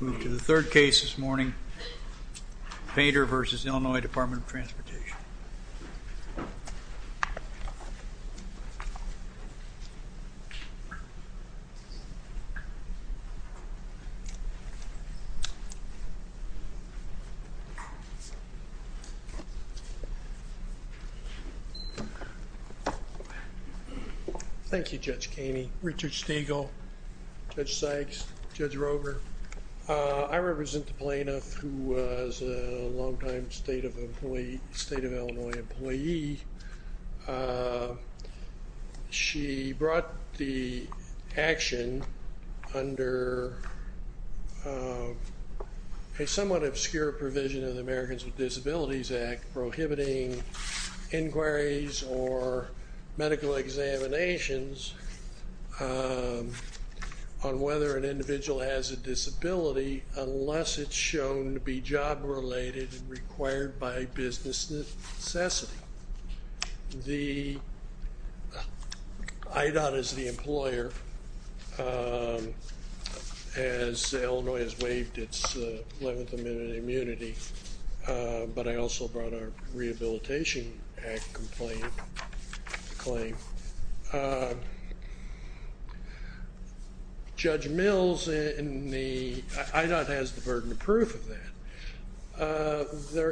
Move to the third case this morning, Painter v. Illinois Department of Transportation. Thank you, Judge Caney, Richard Stegall, Judge Sykes, Judge Rover. I represent the plaintiff who was a long-time State of Illinois employee. She brought the action under a somewhat obscure provision of the Americans with Disabilities Act prohibiting inquiries or medical examinations on whether an individual has a disability unless it's shown to be job-related and required by business necessity. The, IDOT is the employer, as Illinois has waived its 11th Amendment immunity, but I also brought a Rehabilitation Act complaint, claim. Judge Mills in the, IDOT has the burden of proof of that.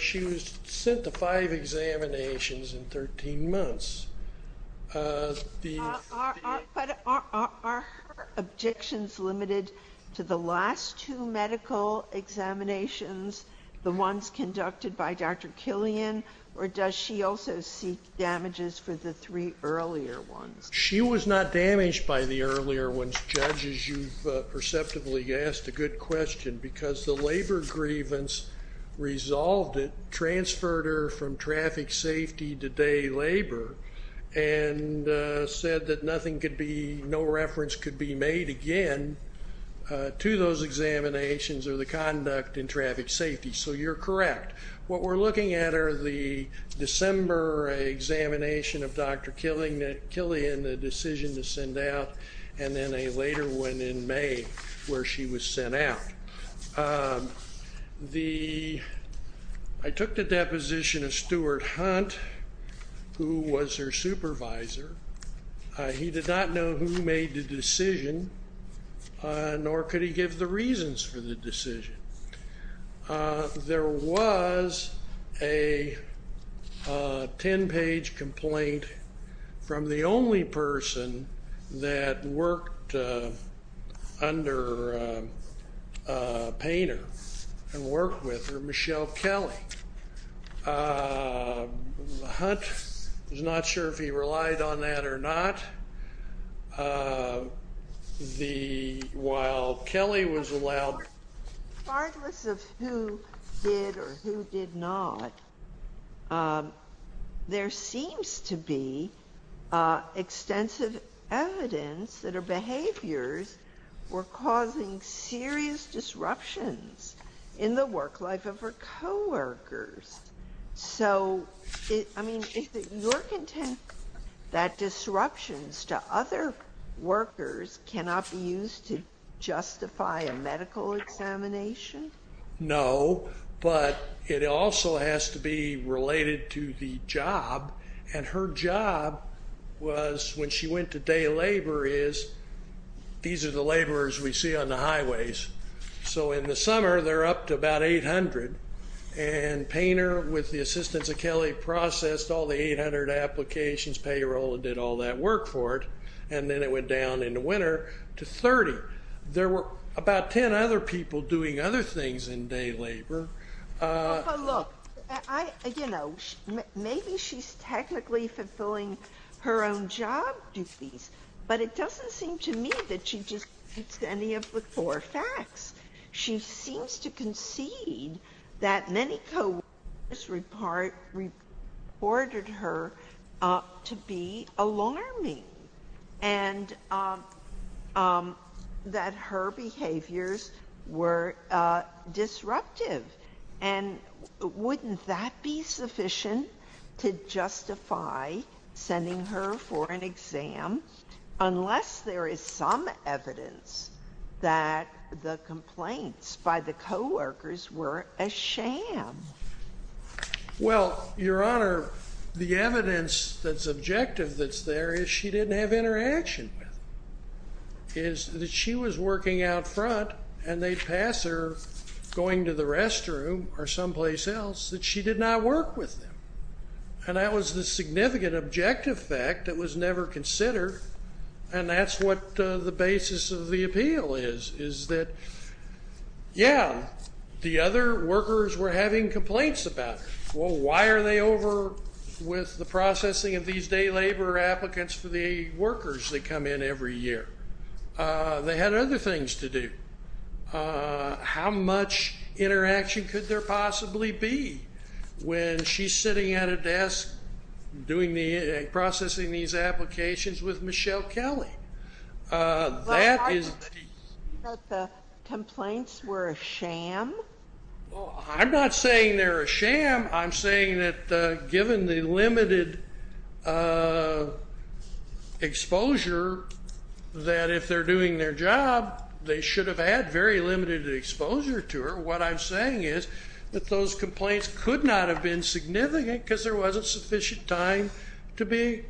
She was sent to five examinations in 13 months. Are her objections limited to the last two medical examinations, the ones conducted by Dr. Killian, or does she also seek damages for the three earlier ones? She was not damaged by the earlier ones, Judge, as you've perceptively asked a good question, because the labor grievance resolved it, transferred her from traffic safety to day labor, and said that nothing could be, no reference could be made again to those examinations or the conduct in traffic safety. So you're correct. What we're looking at are the December examination of Dr. Killian, the decision to send out, and then a later one in May where she was sent out. The, I took the deposition of Stuart Hunt, who was her supervisor. He did not know who made the decision, nor could he give the reasons for the decision. There was a 10-page complaint from the only person that worked under Painter and worked with her, Michelle Kelly. Hunt was not sure if he relied on that or not. The, while Kelly was allowed. Regardless of who did or who did not, there seems to be extensive evidence that her behaviors were causing serious disruptions in the work life of her coworkers. So, I mean, is it your contempt that disruptions to other workers cannot be used to justify a medical examination? No, but it also has to be related to the job. And her job was, when she went to day labor, is, these are the laborers we see on the highways. So in the summer, they're up to about 800. And Painter, with the assistance of Kelly, processed all the 800 applications, payroll, and did all that work for it. And then it went down in the winter to 30. There were about 10 other people doing other things in day labor. But look, I, you know, maybe she's technically fulfilling her own job duties. But it doesn't seem to me that she just fits any of the four facts. She seems to concede that many coworkers reported her to be alarming and that her behaviors were disruptive. And wouldn't that be sufficient to justify sending her for an exam unless there is some evidence that the complaints by the coworkers were a sham? Well, Your Honor, the evidence that's objective that's there is she didn't have interaction with them. It is that she was working out front, and they'd pass her going to the restroom or someplace else that she did not work with them. And that was the significant objective fact that was never considered. And that's what the basis of the appeal is, is that, yeah, the other workers were having complaints about her. Well, why are they over with the processing of these day labor applicants for the workers that come in every year? They had other things to do. How much interaction could there possibly be when she's sitting at a desk doing the processing of these applications with Michelle Kelly? That is the piece. But the complaints were a sham? I'm not saying they're a sham. I'm saying that given the limited exposure that if they're doing their job, they should have had very limited exposure to her. What I'm saying is that those complaints could not have been significant because there wasn't sufficient time to be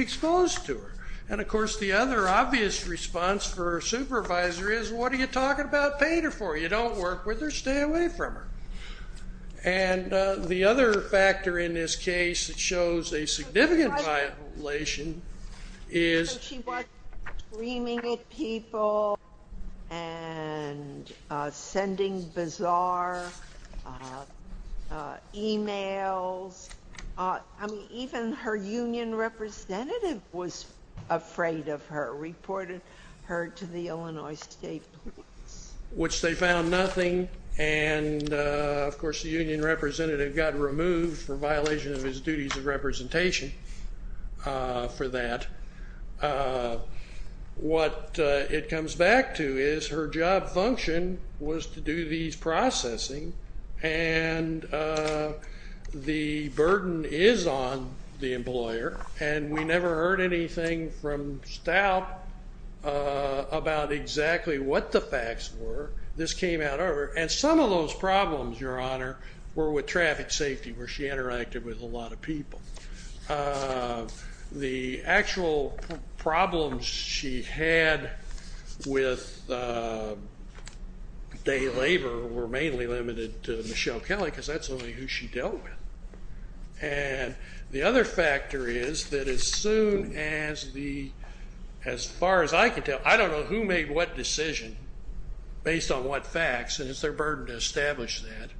exposed to her. And, of course, the other obvious response for a supervisor is, what are you talking about paying her for? You don't work with her. Stay away from her. And the other factor in this case that shows a significant violation is. She was screaming at people and sending bizarre e-mails. I mean, even her union representative was afraid of her, reported her to the Illinois State Police. Which they found nothing. And, of course, the union representative got removed for violation of his duties of representation for that. What it comes back to is her job function was to do these processing. And the burden is on the employer. And we never heard anything from Stout about exactly what the facts were. This came out of her. And some of those problems, Your Honor, were with traffic safety where she interacted with a lot of people. The actual problems she had with day labor were mainly limited to Michelle Kelly because that's only who she dealt with. And the other factor is that as soon as the, as far as I can tell, I don't know who made what decision based on what facts. And it's their burden to establish that.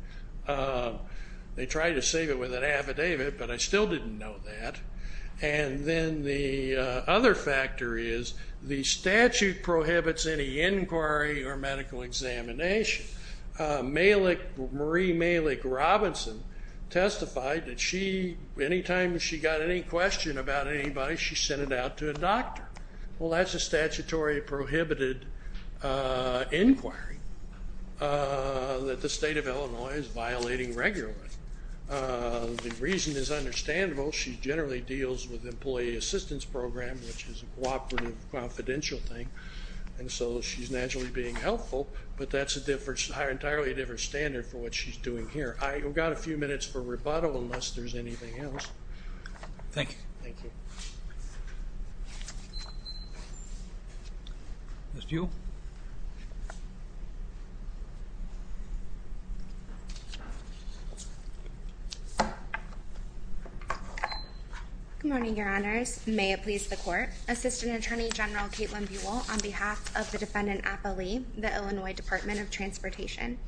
They tried to save it with an affidavit, but I still didn't know that. And then the other factor is the statute prohibits any inquiry or medical examination. Marie Malick Robinson testified that she, anytime she got any question about anybody, she sent it out to a doctor. Well, that's a statutory prohibited inquiry that the state of Illinois is violating regularly. The reason is understandable. She generally deals with employee assistance program, which is a cooperative, confidential thing. And so she's naturally being helpful. But that's an entirely different standard for what she's doing here. I've got a few minutes for rebuttal unless there's anything else. Thank you. Thank you. Ms. Buell. Good morning, your honors. May it please the court. Assistant Attorney General Caitlin Buell on behalf of the defendant, Appali, the Illinois Department of Transportation.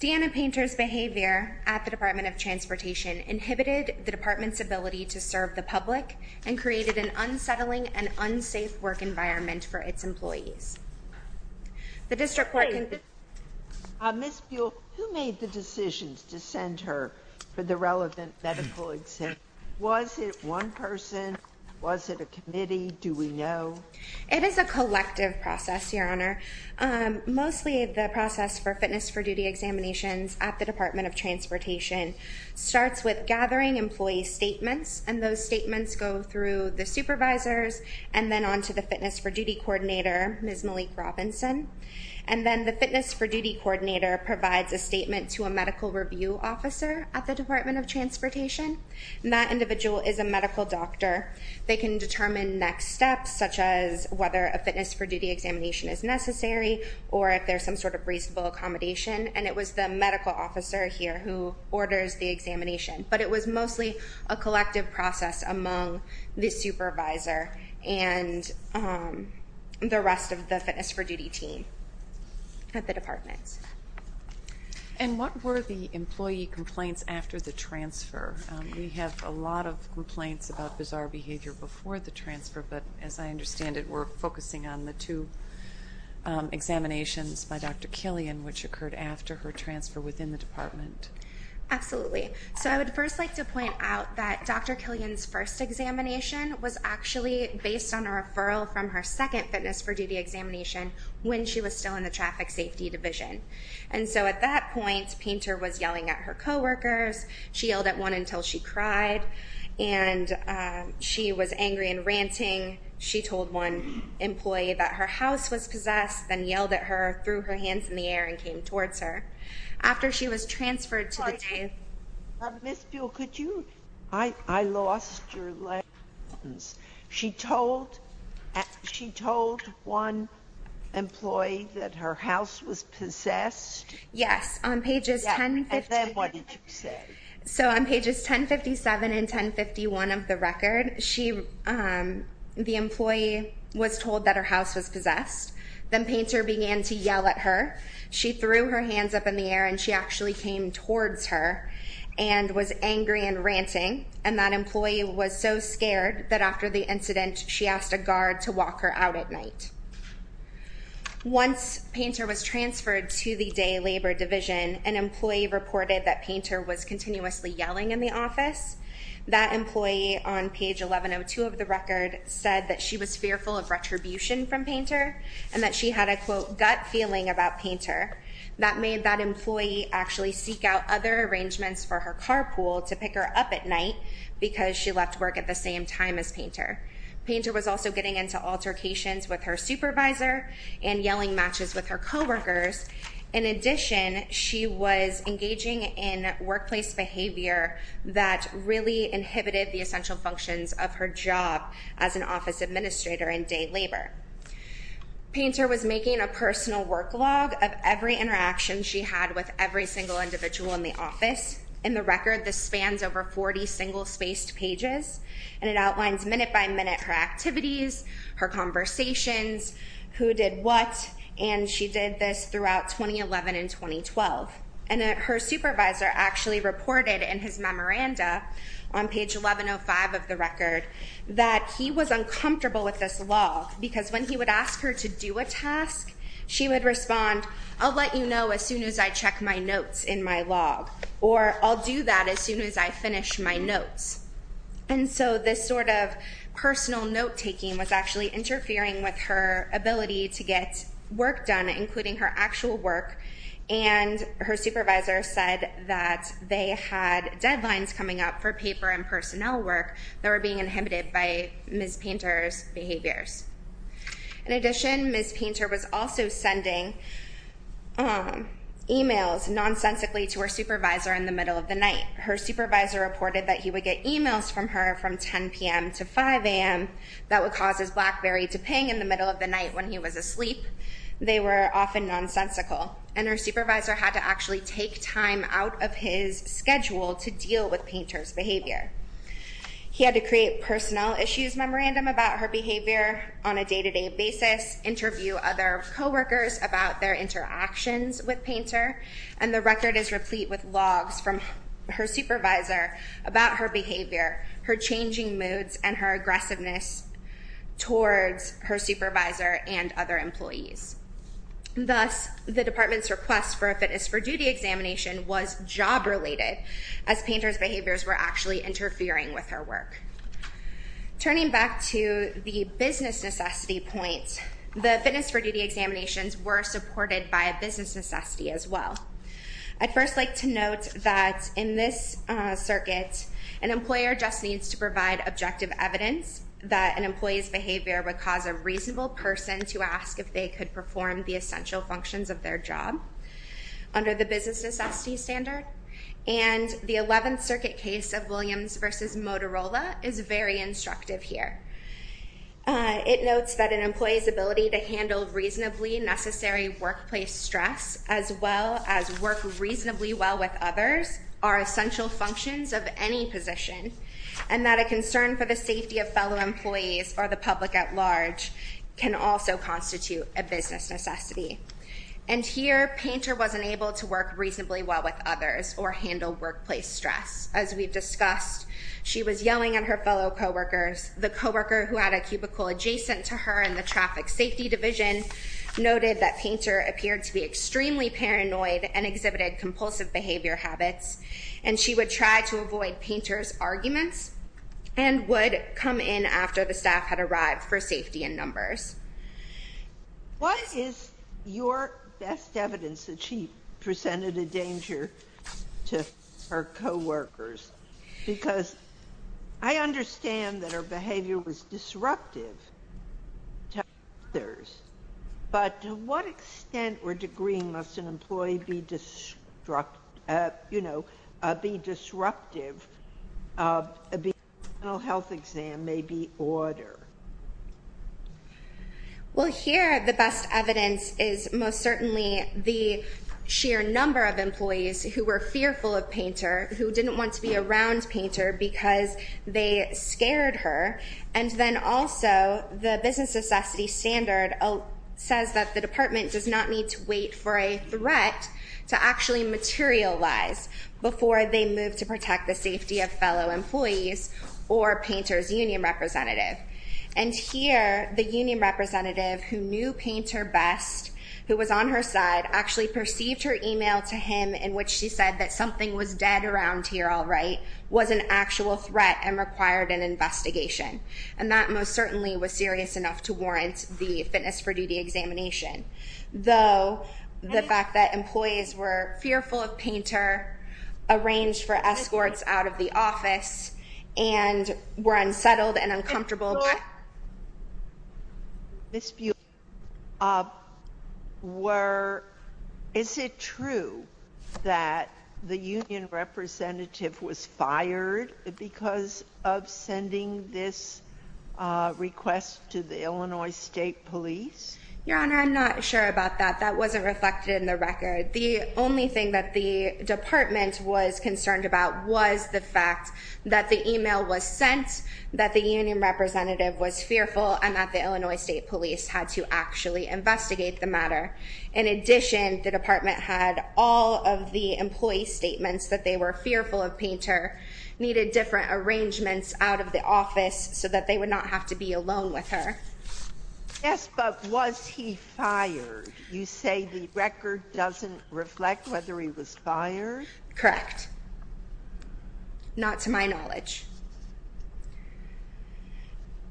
Deanna Painter's behavior at the Department of Transportation inhibited the department's ability to serve the public and created an unsettling and unsafe work environment for its employees. Ms. Buell, who made the decisions to send her for the relevant medical exam? Was it one person? Was it a committee? Do we know? It is a collective process, your honor. Mostly the process for fitness for duty examinations at the Department of Transportation starts with gathering employee statements. And those statements go through the supervisors and then on to the fitness for duty coordinator, Ms. Malik Robinson. And then the fitness for duty coordinator provides a statement to a medical review officer at the Department of Transportation. And that individual is a medical doctor. They can determine next steps, such as whether a fitness for duty examination is necessary or if there's some sort of reasonable accommodation. And it was the medical officer here who orders the examination. But it was mostly a collective process among the supervisor and the rest of the fitness for duty team at the department. And what were the employee complaints after the transfer? We have a lot of complaints about bizarre behavior before the transfer, but as I understand it, we're focusing on the two examinations by Dr. Killian, which occurred after her transfer within the department. Absolutely. So I would first like to point out that Dr. Killian's first examination was actually based on a referral from her second fitness for duty examination when she was still in the traffic safety division. And so at that point, Painter was yelling at her coworkers. She yelled at one until she cried, and she was angry and ranting. She told one employee that her house was possessed, then yelled at her, threw her hands in the air, and came towards her. After she was transferred to the day... Ms. Buell, could you? I lost your lines. She told one employee that her house was possessed? Yes. On pages 1050... And then what did you say? So on pages 1057 and 1051 of the record, the employee was told that her house was possessed. Then Painter began to yell at her. She threw her hands up in the air, and she actually came towards her and was angry and ranting. And that employee was so scared that after the incident, she asked a guard to walk her out at night. Once Painter was transferred to the day labor division, an employee reported that Painter was continuously yelling in the office. That employee on page 1102 of the record said that she was fearful of retribution from Painter and that she had a, quote, gut feeling about Painter. That made that employee actually seek out other arrangements for her carpool to pick her up at night because she left work at the same time as Painter. Painter was also getting into altercations with her supervisor and yelling matches with her coworkers. In addition, she was engaging in workplace behavior that really inhibited the essential functions of her job as an office administrator in day labor. Painter was making a personal work log of every interaction she had with every single individual in the office. In the record, this spans over 40 single-spaced pages, and it outlines minute by minute her activities, her conversations, who did what. And she did this throughout 2011 and 2012. And her supervisor actually reported in his memoranda on page 1105 of the record that he was uncomfortable with this log because when he would ask her to do a task, she would respond, I'll let you know as soon as I check my notes in my log, or I'll do that as soon as I finish my notes. And so this sort of personal note-taking was actually interfering with her ability to get work done, including her actual work. And her supervisor said that they had deadlines coming up for paper and personnel work that were being inhibited by Ms. Painter's behaviors. In addition, Ms. Painter was also sending emails nonsensically to her supervisor in the middle of the night. Her supervisor reported that he would get emails from her from 10 p.m. to 5 a.m. that would cause his BlackBerry to ping in the middle of the night when he was asleep. They were often nonsensical. And her supervisor had to actually take time out of his schedule to deal with Painter's behavior. He had to create personnel issues memorandum about her behavior on a day-to-day basis, interview other coworkers about their interactions with Painter. And the record is replete with logs from her supervisor about her behavior, her changing moods, and her aggressiveness towards her supervisor and other employees. Thus, the department's request for a fitness for duty examination was job-related, as Painter's behaviors were actually interfering with her work. Turning back to the business necessity point, the fitness for duty examinations were supported by a business necessity as well. I'd first like to note that in this circuit, an employer just needs to provide objective evidence that an employee's behavior would cause a reasonable person to ask if they could perform the essential functions of their job under the business necessity standard. And the 11th Circuit case of Williams v. Motorola is very instructive here. It notes that an employee's ability to handle reasonably necessary workplace stress as well as work reasonably well with others are essential functions of any position, and that a concern for the safety of fellow employees or the public at large can also constitute a business necessity. And here, Painter wasn't able to work reasonably well with others or handle workplace stress. As we've discussed, she was yelling at her fellow coworkers. The coworker who had a cubicle adjacent to her in the traffic safety division noted that Painter appeared to be extremely paranoid and exhibited compulsive behavior habits, and she would try to avoid Painter's arguments and would come in after the staff had arrived for safety in numbers. What is your best evidence that she presented a danger to her coworkers? Because I understand that her behavior was disruptive to others, but to what extent or degree must an employee be disruptive of a behavioral health exam may be order? Well, here the best evidence is most certainly the sheer number of employees who were fearful of Painter, who didn't want to be around Painter because they scared her, and then also the business necessity standard says that the department does not need to wait for a threat to actually materialize before they move to protect the safety of fellow employees or Painter's union representative. And here, the union representative who knew Painter best, who was on her side, actually perceived her email to him in which she said that something was dead around here, all right, was an actual threat and required an investigation. And that most certainly was serious enough to warrant the fitness for duty examination, though the fact that employees were fearful of Painter, arranged for escorts out of the office, and were unsettled and uncomfortable. Is it true that the union representative was fired because of sending this request to the Illinois State Police? Your Honor, I'm not sure about that. That wasn't reflected in the record. The only thing that the department was concerned about was the fact that the email was sent, that the union representative was fearful, and that the Illinois State Police had to actually investigate the matter. In addition, the department had all of the employee statements that they were fearful of Painter, needed different arrangements out of the office so that they would not have to be alone with her. Yes, but was he fired? You say the record doesn't reflect whether he was fired? Correct. Not to my knowledge.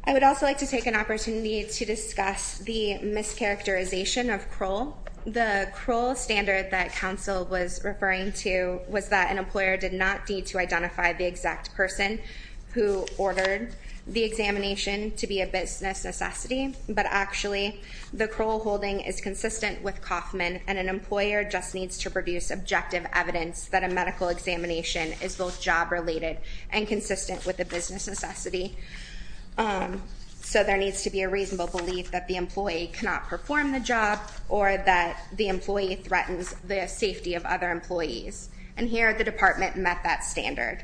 I would also like to take an opportunity to discuss the mischaracterization of Kroll. The Kroll standard that counsel was referring to was that an employer did not need to identify the exact person who ordered the examination to be a business necessity. But actually, the Kroll holding is consistent with Kauffman, and an employer just needs to produce objective evidence that a medical examination is both job-related and consistent with the business necessity. So there needs to be a reasonable belief that the employee cannot perform the job, or that the employee threatens the safety of other employees. And here, the department met that standard.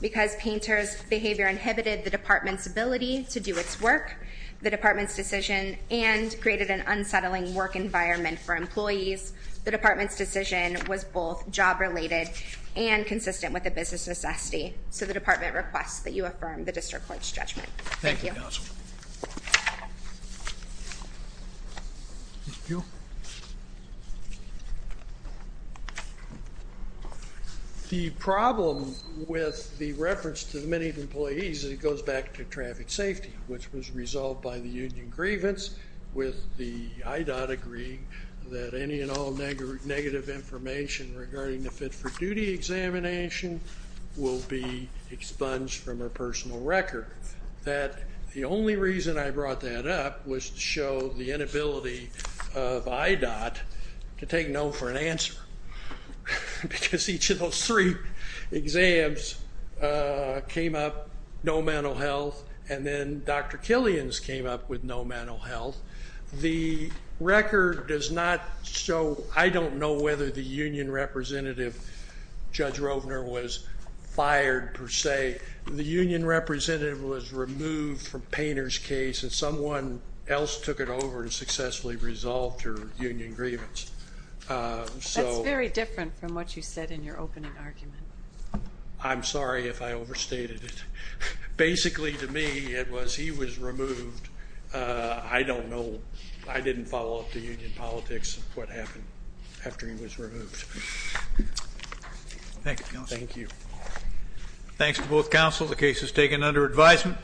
Because Painter's behavior inhibited the department's ability to do its work, the department's decision, and created an unsettling work environment for employees, the department's decision was both job-related and consistent with the business necessity. So the department requests that you affirm the district court's judgment. Thank you. Thank you, counsel. Thank you. The problem with the reference to the many employees, it goes back to traffic safety, which was resolved by the union grievance with the IDOT agreeing that any and all negative information regarding the fit-for-duty examination will be expunged from her personal record. The only reason I brought that up was to show the inability of IDOT to take no for an answer. Because each of those three exams came up, no mental health, and then Dr. Killian's came up with no mental health. The record does not show, I don't know whether the union representative, Judge Rovner, was fired per se. The union representative was removed from Painter's case, and someone else took it over and successfully resolved her union grievance. That's very different from what you said in your opening argument. I'm sorry if I overstated it. Basically, to me, it was he was removed. I don't know. I didn't follow up the union politics of what happened after he was removed. Thank you, counsel. Thank you. Thanks to both counsel. The case is taken under advisement.